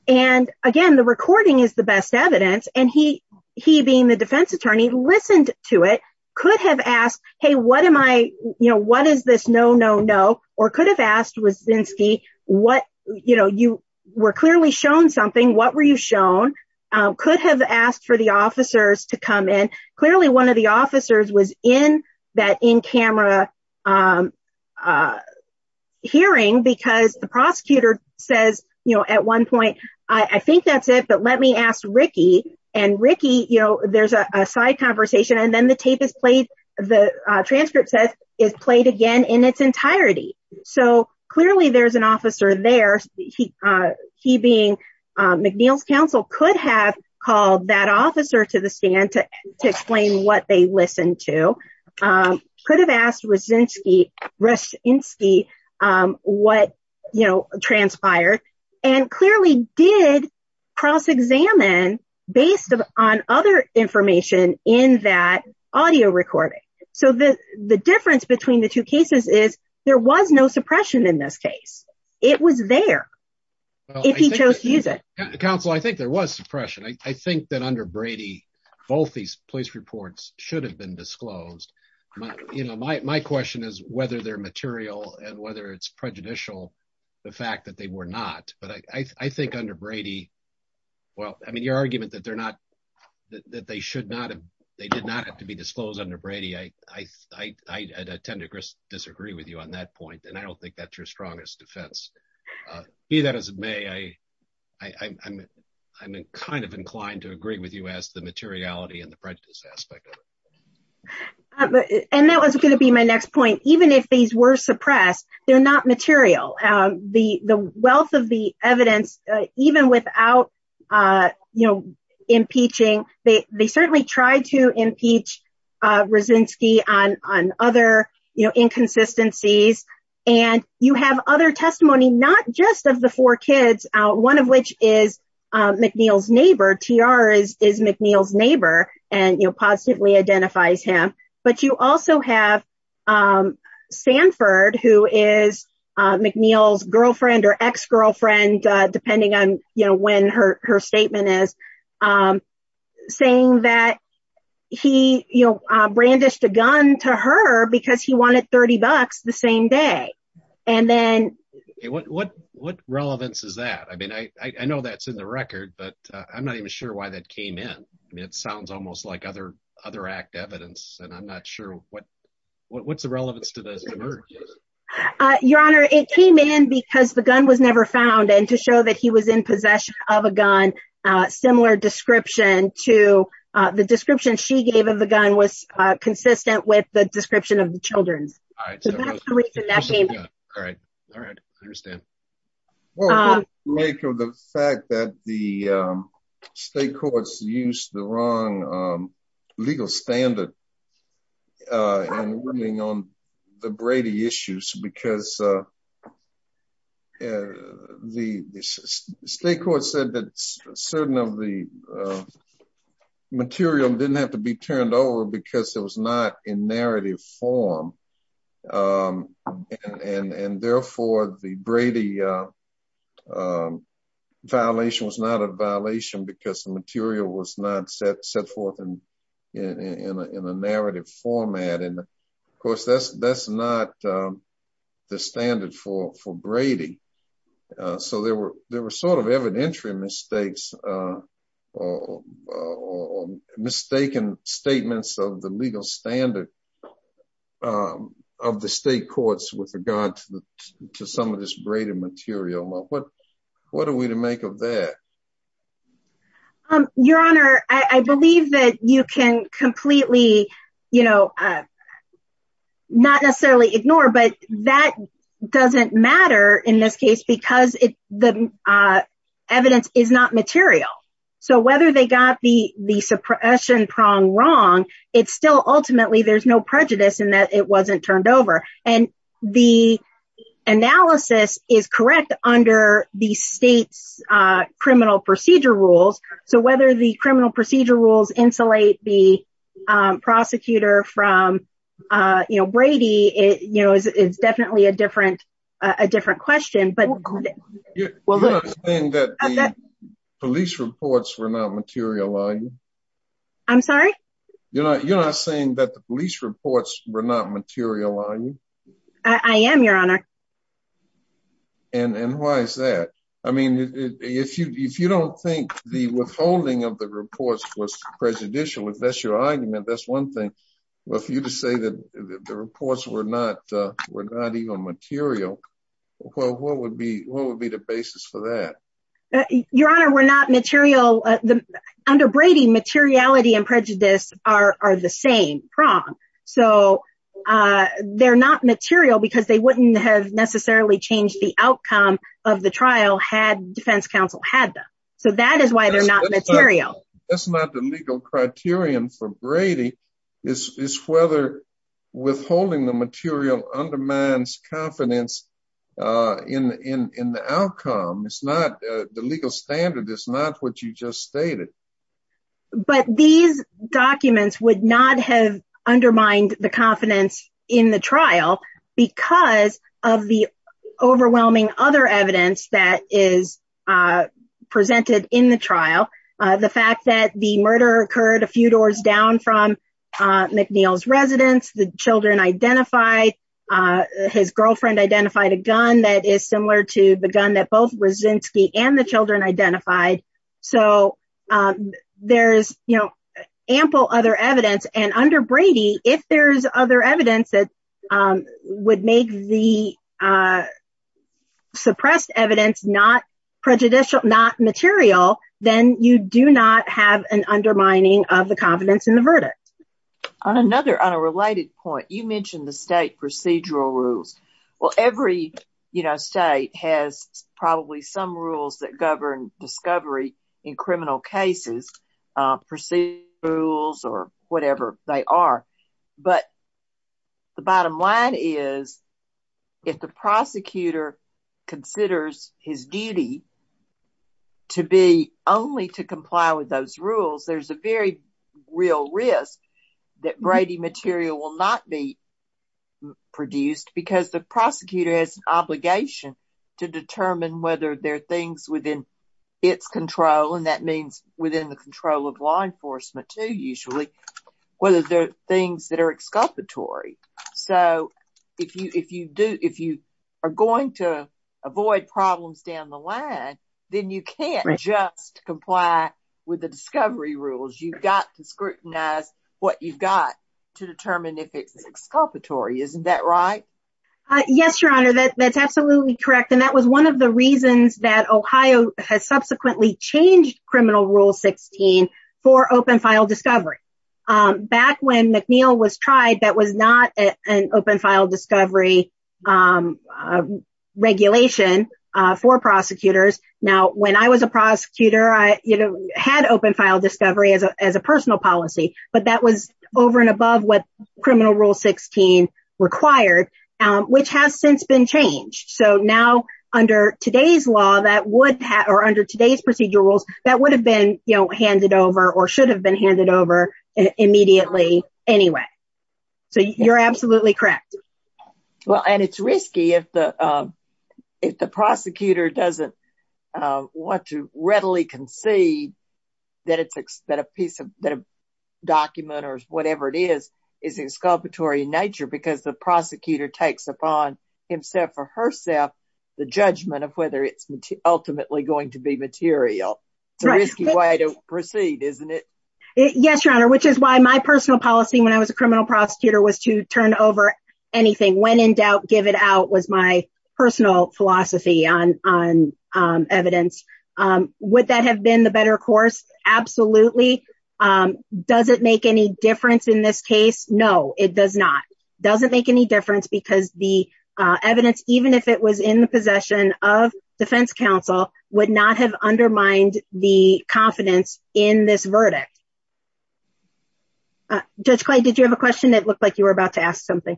And again, the recording is the best evidence and he, he being the defense attorney listened to it could have asked, Hey, what am I, you know, what is this? No, no, no, or could have asked Wisniewski, what, you know, you were clearly shown something, what were you shown, could have asked for the officers to come in. Clearly, one of the officers was in that in camera hearing because the prosecutor says, you know, at one point, I think that's it. But let me ask Ricky and Ricky, you know, there's a side conversation. And then the tape is played. The transcript says is played again in its entirety. So clearly, there's an officer there. He, he being McNeil's counsel could have called that officer to the stand to explain what they listened to, could have asked Wisniewski what, you know, transpired, and clearly did cross examine based on other information in that audio recording. So the, the difference between the two cases is there was no suppression in this case. It was there. If he chose to use it. Counsel, I think there was suppression. I think that under Brady, both these police reports should have been disclosed. You know, my question is whether they're material and whether it's prejudicial, the fact that they were not, but I think under Brady, well, I mean, your argument that they're not that they should not have, they did not have to be disclosed under Brady. I tend to disagree with you on that point. And I don't think that's your strongest defense. Be that as it may, I, I'm, I'm kind of inclined to agree with you as the materiality and the prejudice aspect of it. And that was going to be my next point. Even if these were suppressed, they're not material. The, the wealth of the evidence, even without, you know, impeaching, they, they certainly tried to impeach Wisniewski on, on other, you know, inconsistencies. And you have other testimony, not just of the four and, you know, positively identifies him. But you also have Sanford, who is McNeil's girlfriend or ex-girlfriend, depending on, you know, when her, her statement is saying that he, you know, brandished a gun to her because he wanted 30 bucks the same day. And then what, what, what relevance is that? I mean, I, I know that's in the record, but I'm not even sure why that came in. I mean, it sounds almost like other, other act evidence, and I'm not sure what, what, what's the relevance to this? Your Honor, it came in because the gun was never found. And to show that he was in possession of a gun, similar description to the description she gave of the gun was consistent with the description of the children's. All right. All right. I understand. Make of the fact that the state courts used the wrong legal standard. And running on the Brady issues because the state court said that certain of the material didn't have to be turned over because it was not in narrative form. And therefore, the Brady violation was not a violation because the material was not set forth in, in a narrative format. And of course, that's, that's not the standard for, for Brady. So there were, there were sort of evidentiary mistakes, or mistaken statements of the legal standard of the state courts with regard to some of this Brady material. What, what are we to make of that? Your Honor, I believe that you can completely, you know, not necessarily ignore, but that doesn't matter in this case, because it, the the suppression prong wrong, it's still ultimately, there's no prejudice in that it wasn't turned over. And the analysis is correct under the state's criminal procedure rules. So whether the criminal procedure rules insulate the prosecutor from, you know, Brady, it, you know, is definitely a different, a different question, but You're not saying that the police reports were not material, are you? I'm sorry? You're not, you're not saying that the police reports were not material, are you? I am, Your Honor. And why is that? I mean, if you, if you don't think the withholding of the reports was prejudicial, if that's your argument, that's one thing. But for you to say that the reports were not, were not even material, well, what would be, what would be the basis for that? Your Honor, we're not material. Under Brady, materiality and prejudice are the same prong. So they're not material because they wouldn't have necessarily changed the outcome of the trial had defense counsel had them. So that is why they're not material. That's not the legal criterion for Brady, is whether withholding the material undermines confidence in the outcome. It's not, the legal standard is not what you just stated. But these documents would not have undermined the confidence in the trial because of the overwhelming other evidence that is presented in the trial. The fact that the murder occurred a few doors down from McNeil's residence, the children identified, his girlfriend identified a gun that is similar to the gun that both Raczynski and the children identified. So there's, you know, ample other evidence. And under Brady, if there's other evidence that would make the suppressed evidence not prejudicial, not material, then you do not have an undermining of the confidence in the verdict. On another, on a related point, you mentioned the state procedural rules. Well, every, you know, state has probably some rules that govern discovery in If the prosecutor considers his duty to be only to comply with those rules, there's a very real risk that Brady material will not be produced because the prosecutor has an obligation to determine whether there are things within its control, and that means within the control of law enforcement too, usually, whether they're things that are exculpatory. So if you, if you do, if you are going to avoid problems down the line, then you can't just comply with the discovery rules. You've got to scrutinize what you've got to determine if it's exculpatory. Isn't that right? Yes, Your Honor, that's absolutely correct. And that was one of the reasons that Ohio has subsequently changed criminal rule 16 for open file discovery. Back when McNeil was tried, that was not an open file discovery regulation for prosecutors. Now, when I was a prosecutor, I had open file discovery as a personal policy, but that was over and above what criminal rule 16 required, which has since been changed. So now, under today's law, that would have, or under today's law, been handed over or should have been handed over immediately anyway. So you're absolutely correct. Well, and it's risky if the prosecutor doesn't want to readily concede that a piece of, that a document or whatever it is, is exculpatory in nature because the prosecutor takes upon himself or herself the judgment of whether it's ultimately going to be material. It's a risky way to proceed, isn't it? Yes, Your Honor, which is why my personal policy when I was a criminal prosecutor was to turn over anything. When in doubt, give it out, was my personal philosophy on evidence. Would that have been the better course? Absolutely. Does it make any difference in this case? No, it does not. Doesn't make any difference because the evidence, even if it was in the possession of defense counsel, would not have undermined the confidence in this verdict. Judge Clay, did you have a question? It looked like you were about to ask something.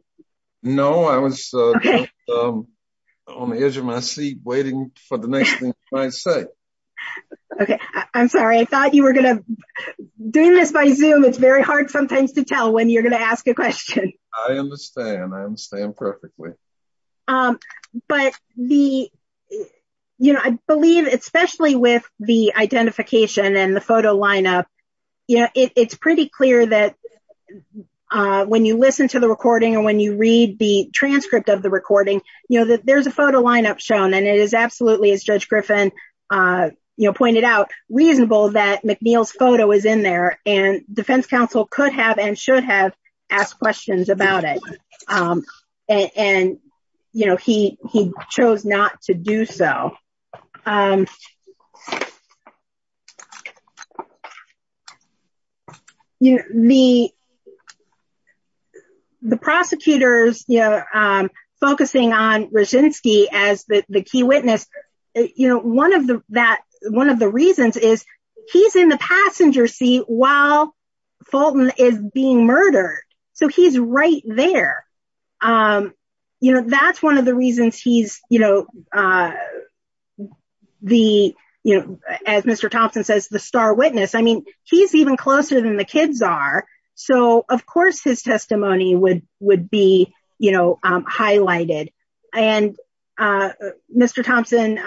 No, I was on the edge of my seat waiting for the next thing you might say. OK, I'm sorry. I thought you were going to, doing this by Zoom, it's very hard sometimes to tell when you're going to ask a question. I understand. I understand perfectly. But the, you know, I believe, especially with the identification and the photo lineup, you know, it's pretty clear that when you listen to the recording or when you read the transcript of the recording, you know, that there's a photo lineup shown and it is absolutely, as Judge Griffin pointed out, reasonable that McNeil's photo is in there and defense counsel could have and should have asked questions about it. And, you know, he he chose not to do so. You know, the. The prosecutors, you know, focusing on Raczynski as the key witness, you know, one of the that one of the reasons is he's in the passenger seat while Fulton is being murdered. So he's right there. You know, that's one of the reasons he's, you know, the you know, as Mr. Thompson says, the star witness. I mean, he's even closer than the kids are. So, of course, his testimony would would be, you know, highlighted. And Mr. Thompson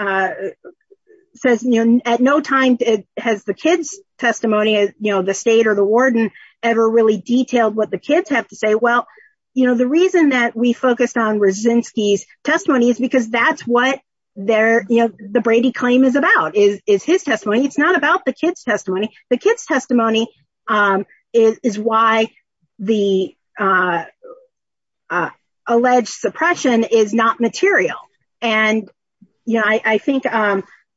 says, you know, at no time has the kids testimony, you know, the state or the kids have to say, well, you know, the reason that we focused on Raczynski's testimony is because that's what they're you know, the Brady claim is about is his testimony. It's not about the kids testimony. The kids testimony is why the alleged suppression is not material. And, you know, I think,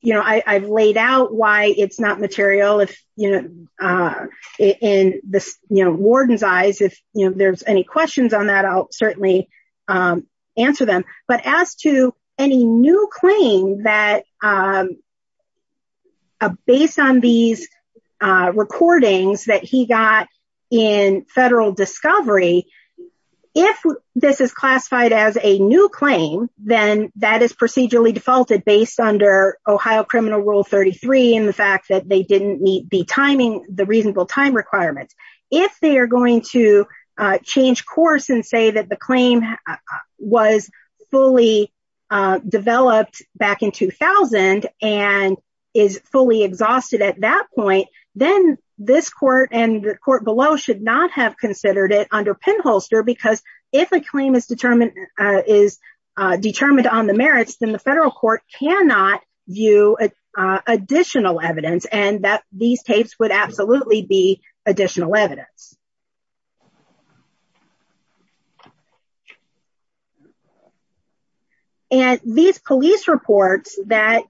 you know, I've laid out why it's not material. If, you know, in the warden's eyes, if there's any questions on that, I'll certainly answer them. But as to any new claim that based on these recordings that he got in federal discovery, if this is classified as a new claim, then that is procedurally defaulted based under Ohio Criminal Rule 33. And the fact that they didn't meet the timing, the reasonable time requirements. If they are going to change course and say that the claim was fully developed back in 2000 and is fully exhausted at that point, then this court and the court below should not have considered it under pinholster, because if a claim is determined is determined on the merits, then the federal court cannot view additional evidence and that these tapes would absolutely be additional evidence. And these police reports that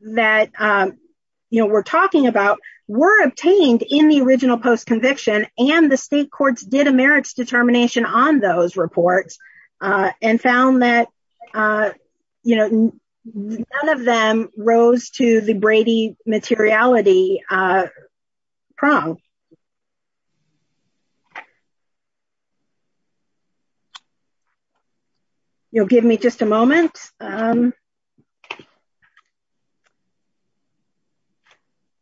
that, you know, we're talking about were obtained in the original post conviction and the state courts did a merits determination on those reports and found that, you know, none of them rose to the Brady materiality prong. You'll give me just a moment.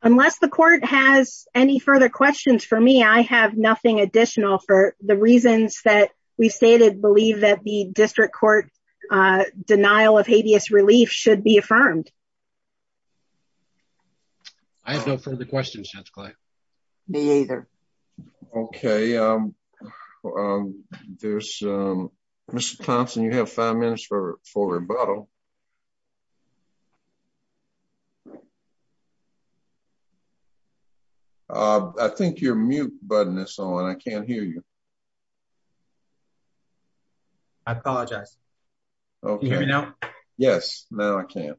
Unless the court has any further questions for me, I have nothing additional for the court denial of habeas relief should be affirmed. I have no further questions. Me either. Okay. There's Mr Thompson you have five minutes for for rebuttal. I think your mute button is on I can't hear you. I apologize. Okay, now, yes, now I can't.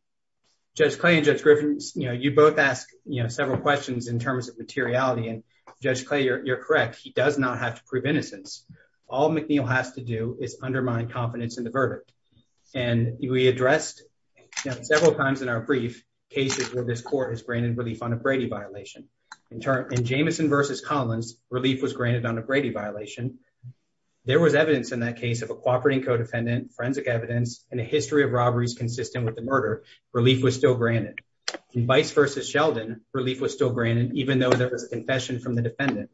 Just claim just Griffin's you know you both asked, you know, several questions in terms of materiality and just clear you're correct he does not have to prove innocence. All McNeil has to do is undermine confidence in the verdict. And we addressed several times in our brief cases where this court has granted relief on a Brady violation in turn in Jameson versus Collins relief was granted on a Brady violation. There was evidence in that case of a cooperating codependent forensic evidence and a history of robberies consistent with the murder relief was still granted and vice versus Sheldon relief was still granted, even though there was a confession from the defendant.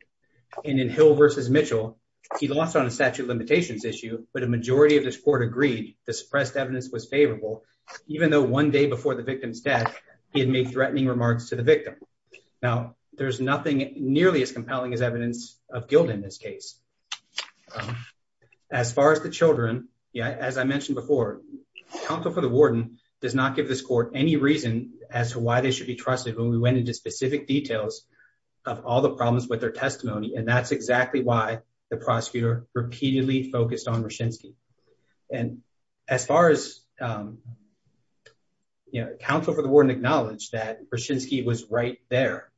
And in Hill versus Mitchell, he lost on a statute of limitations issue, but a majority of this court agreed the suppressed evidence was favorable, even though one day before the victim's death, he had made threatening remarks to the victim. Now, there's nothing nearly as compelling as evidence of guilt in this case. Um, as far as the children. Yeah, as I mentioned before, the counsel for the warden does not give this court any reason as to why they should be trusted when we went into specific details of all the problems with their testimony and that's exactly why the prosecutor repeatedly focused on Roshinsky. And as far as, you know, counsel for the warden acknowledged that Roshinsky was right there.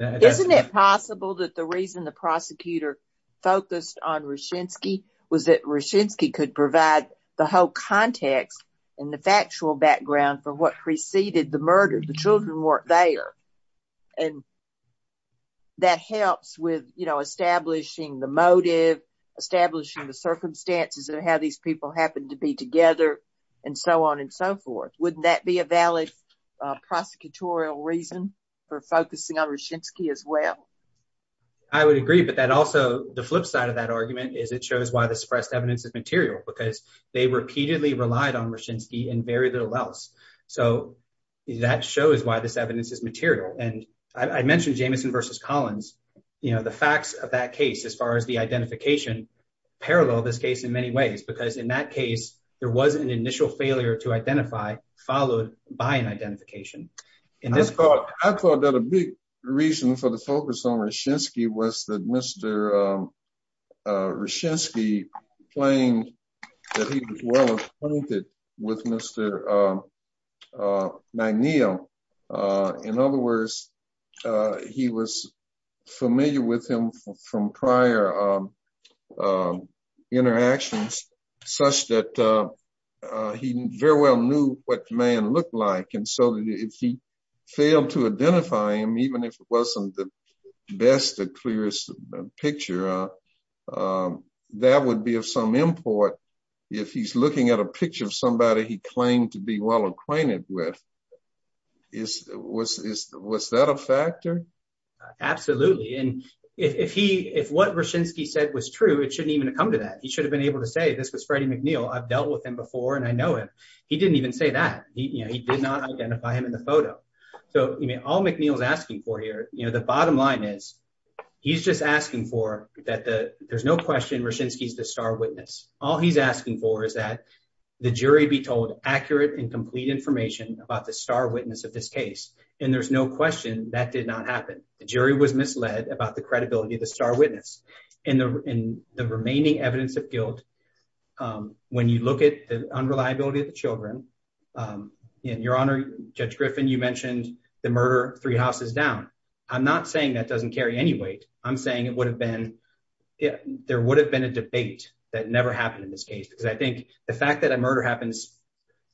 Isn't it possible that the reason the prosecutor focused on Roshinsky was that Roshinsky could provide the whole context and the factual background for what preceded the murder, the children weren't there. And that helps with, you know, establishing the motive, establishing the circumstances of how these people happen to be together, and so on and so forth. Wouldn't that be a valid prosecutorial reason for focusing on Roshinsky as well. I would agree, but that also the flip side of that argument is it shows why the suppressed evidence is material because they repeatedly relied on Roshinsky and very little else. So, that shows why this evidence is material and I mentioned Jamison versus Collins, you know, the facts of that case as far as the identification parallel this case in many ways, because in that case, there was an initial failure to identify, followed by an identification. I thought that a big reason for the focus on Roshinsky was that Mr. Roshinsky claimed that he was well acquainted with Mr. Magnillo. In other words, he was familiar with him from prior interactions, such that he very well knew what the man looked like and so if he failed to identify him, even if it wasn't the best, the clearest picture, that would be of some import if he's looking at a picture of somebody he claimed to be well acquainted with, was that a factor? Absolutely, and if what Roshinsky said was true, it shouldn't even come to that. He should have been able to say, this was Freddie McNeil, I've dealt with him before and I know him. He didn't even say that, he did not identify him in the photo. So, all McNeil's asking for here, you know, the bottom line is, he's just asking for that there's no question Roshinsky's the star witness. All he's asking for is that the jury be told accurate and complete information about the star witness of this case and there's no question that did not happen. The jury was misled about the credibility of the star witness and the remaining evidence of guilt, when you look at the unreliability of the children, and Your Honor, Judge Griffin, you mentioned the murder three houses down. I'm not saying that doesn't carry any weight. I'm saying it would have been, there would have been a debate that never happened in this case because I think the fact that a murder happens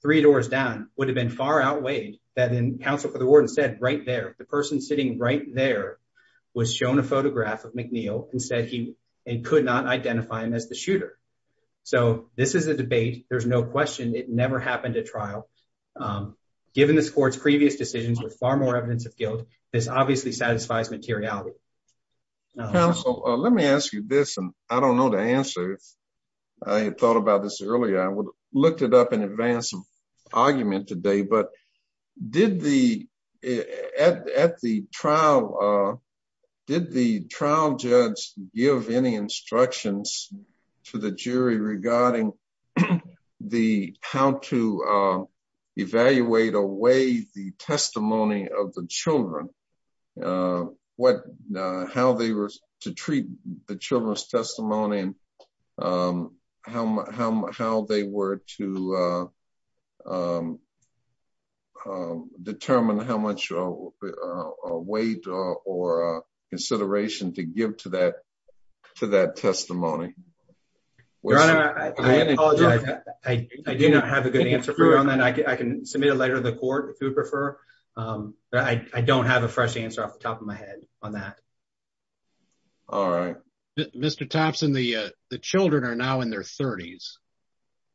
three doors down would have been far outweighed that in counsel for the warden said right there, the person sitting right there was shown a photograph of McNeil and said he could not identify him as the shooter. So, this is a debate, there's no question it never happened at trial. Given this court's previous decisions with far more evidence of guilt, this obviously satisfies materiality. Counsel, let me ask you this and I don't know the answer. I thought about this earlier, I would have looked it up in advance of argument today, but did the, at the trial, did the trial judge give any instructions to the jury regarding the, how to evaluate away the testimony of the children, what, how they were to treat the children's testimony and how they were to determine how much weight or consideration to give to that, to that testimony? Your Honor, I do not have a good answer for you on that. I can submit a letter to the court if you prefer, but I don't have a fresh answer off the top of my head on that. All right. Mr. Thompson, the children are now in their 30s.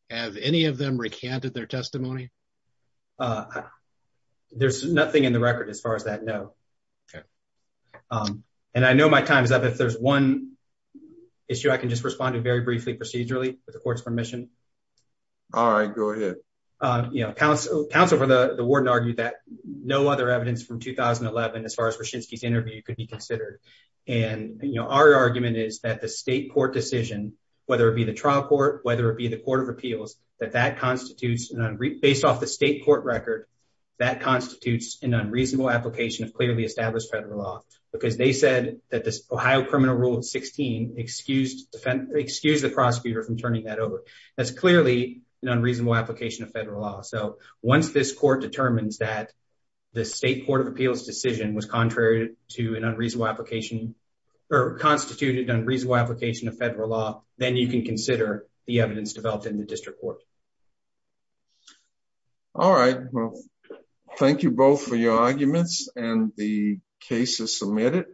Have any of them recanted their testimony? There's nothing in the record as far as that, no. Um, and I know my time is up. If there's one issue I can just respond to very briefly procedurally with the court's permission. All right, go ahead. You know, counsel, counsel for the warden argued that no other evidence from 2011, as far as Wyshynski's interview could be considered. And, you know, our argument is that the state court decision, whether it be the trial court, whether it be the court of appeals, that that constitutes based off the state court record, that constitutes an unreasonable application of clearly established federal law, because they said that this Ohio criminal rule of 16 excused the prosecutor from turning that over. That's clearly an unreasonable application of federal law. So once this court determines that the state court of appeals decision was contrary to an unreasonable application or constituted unreasonable application of federal law, then you can consider the evidence developed in the district court. All right, well, thank you both for your arguments and the cases submitted.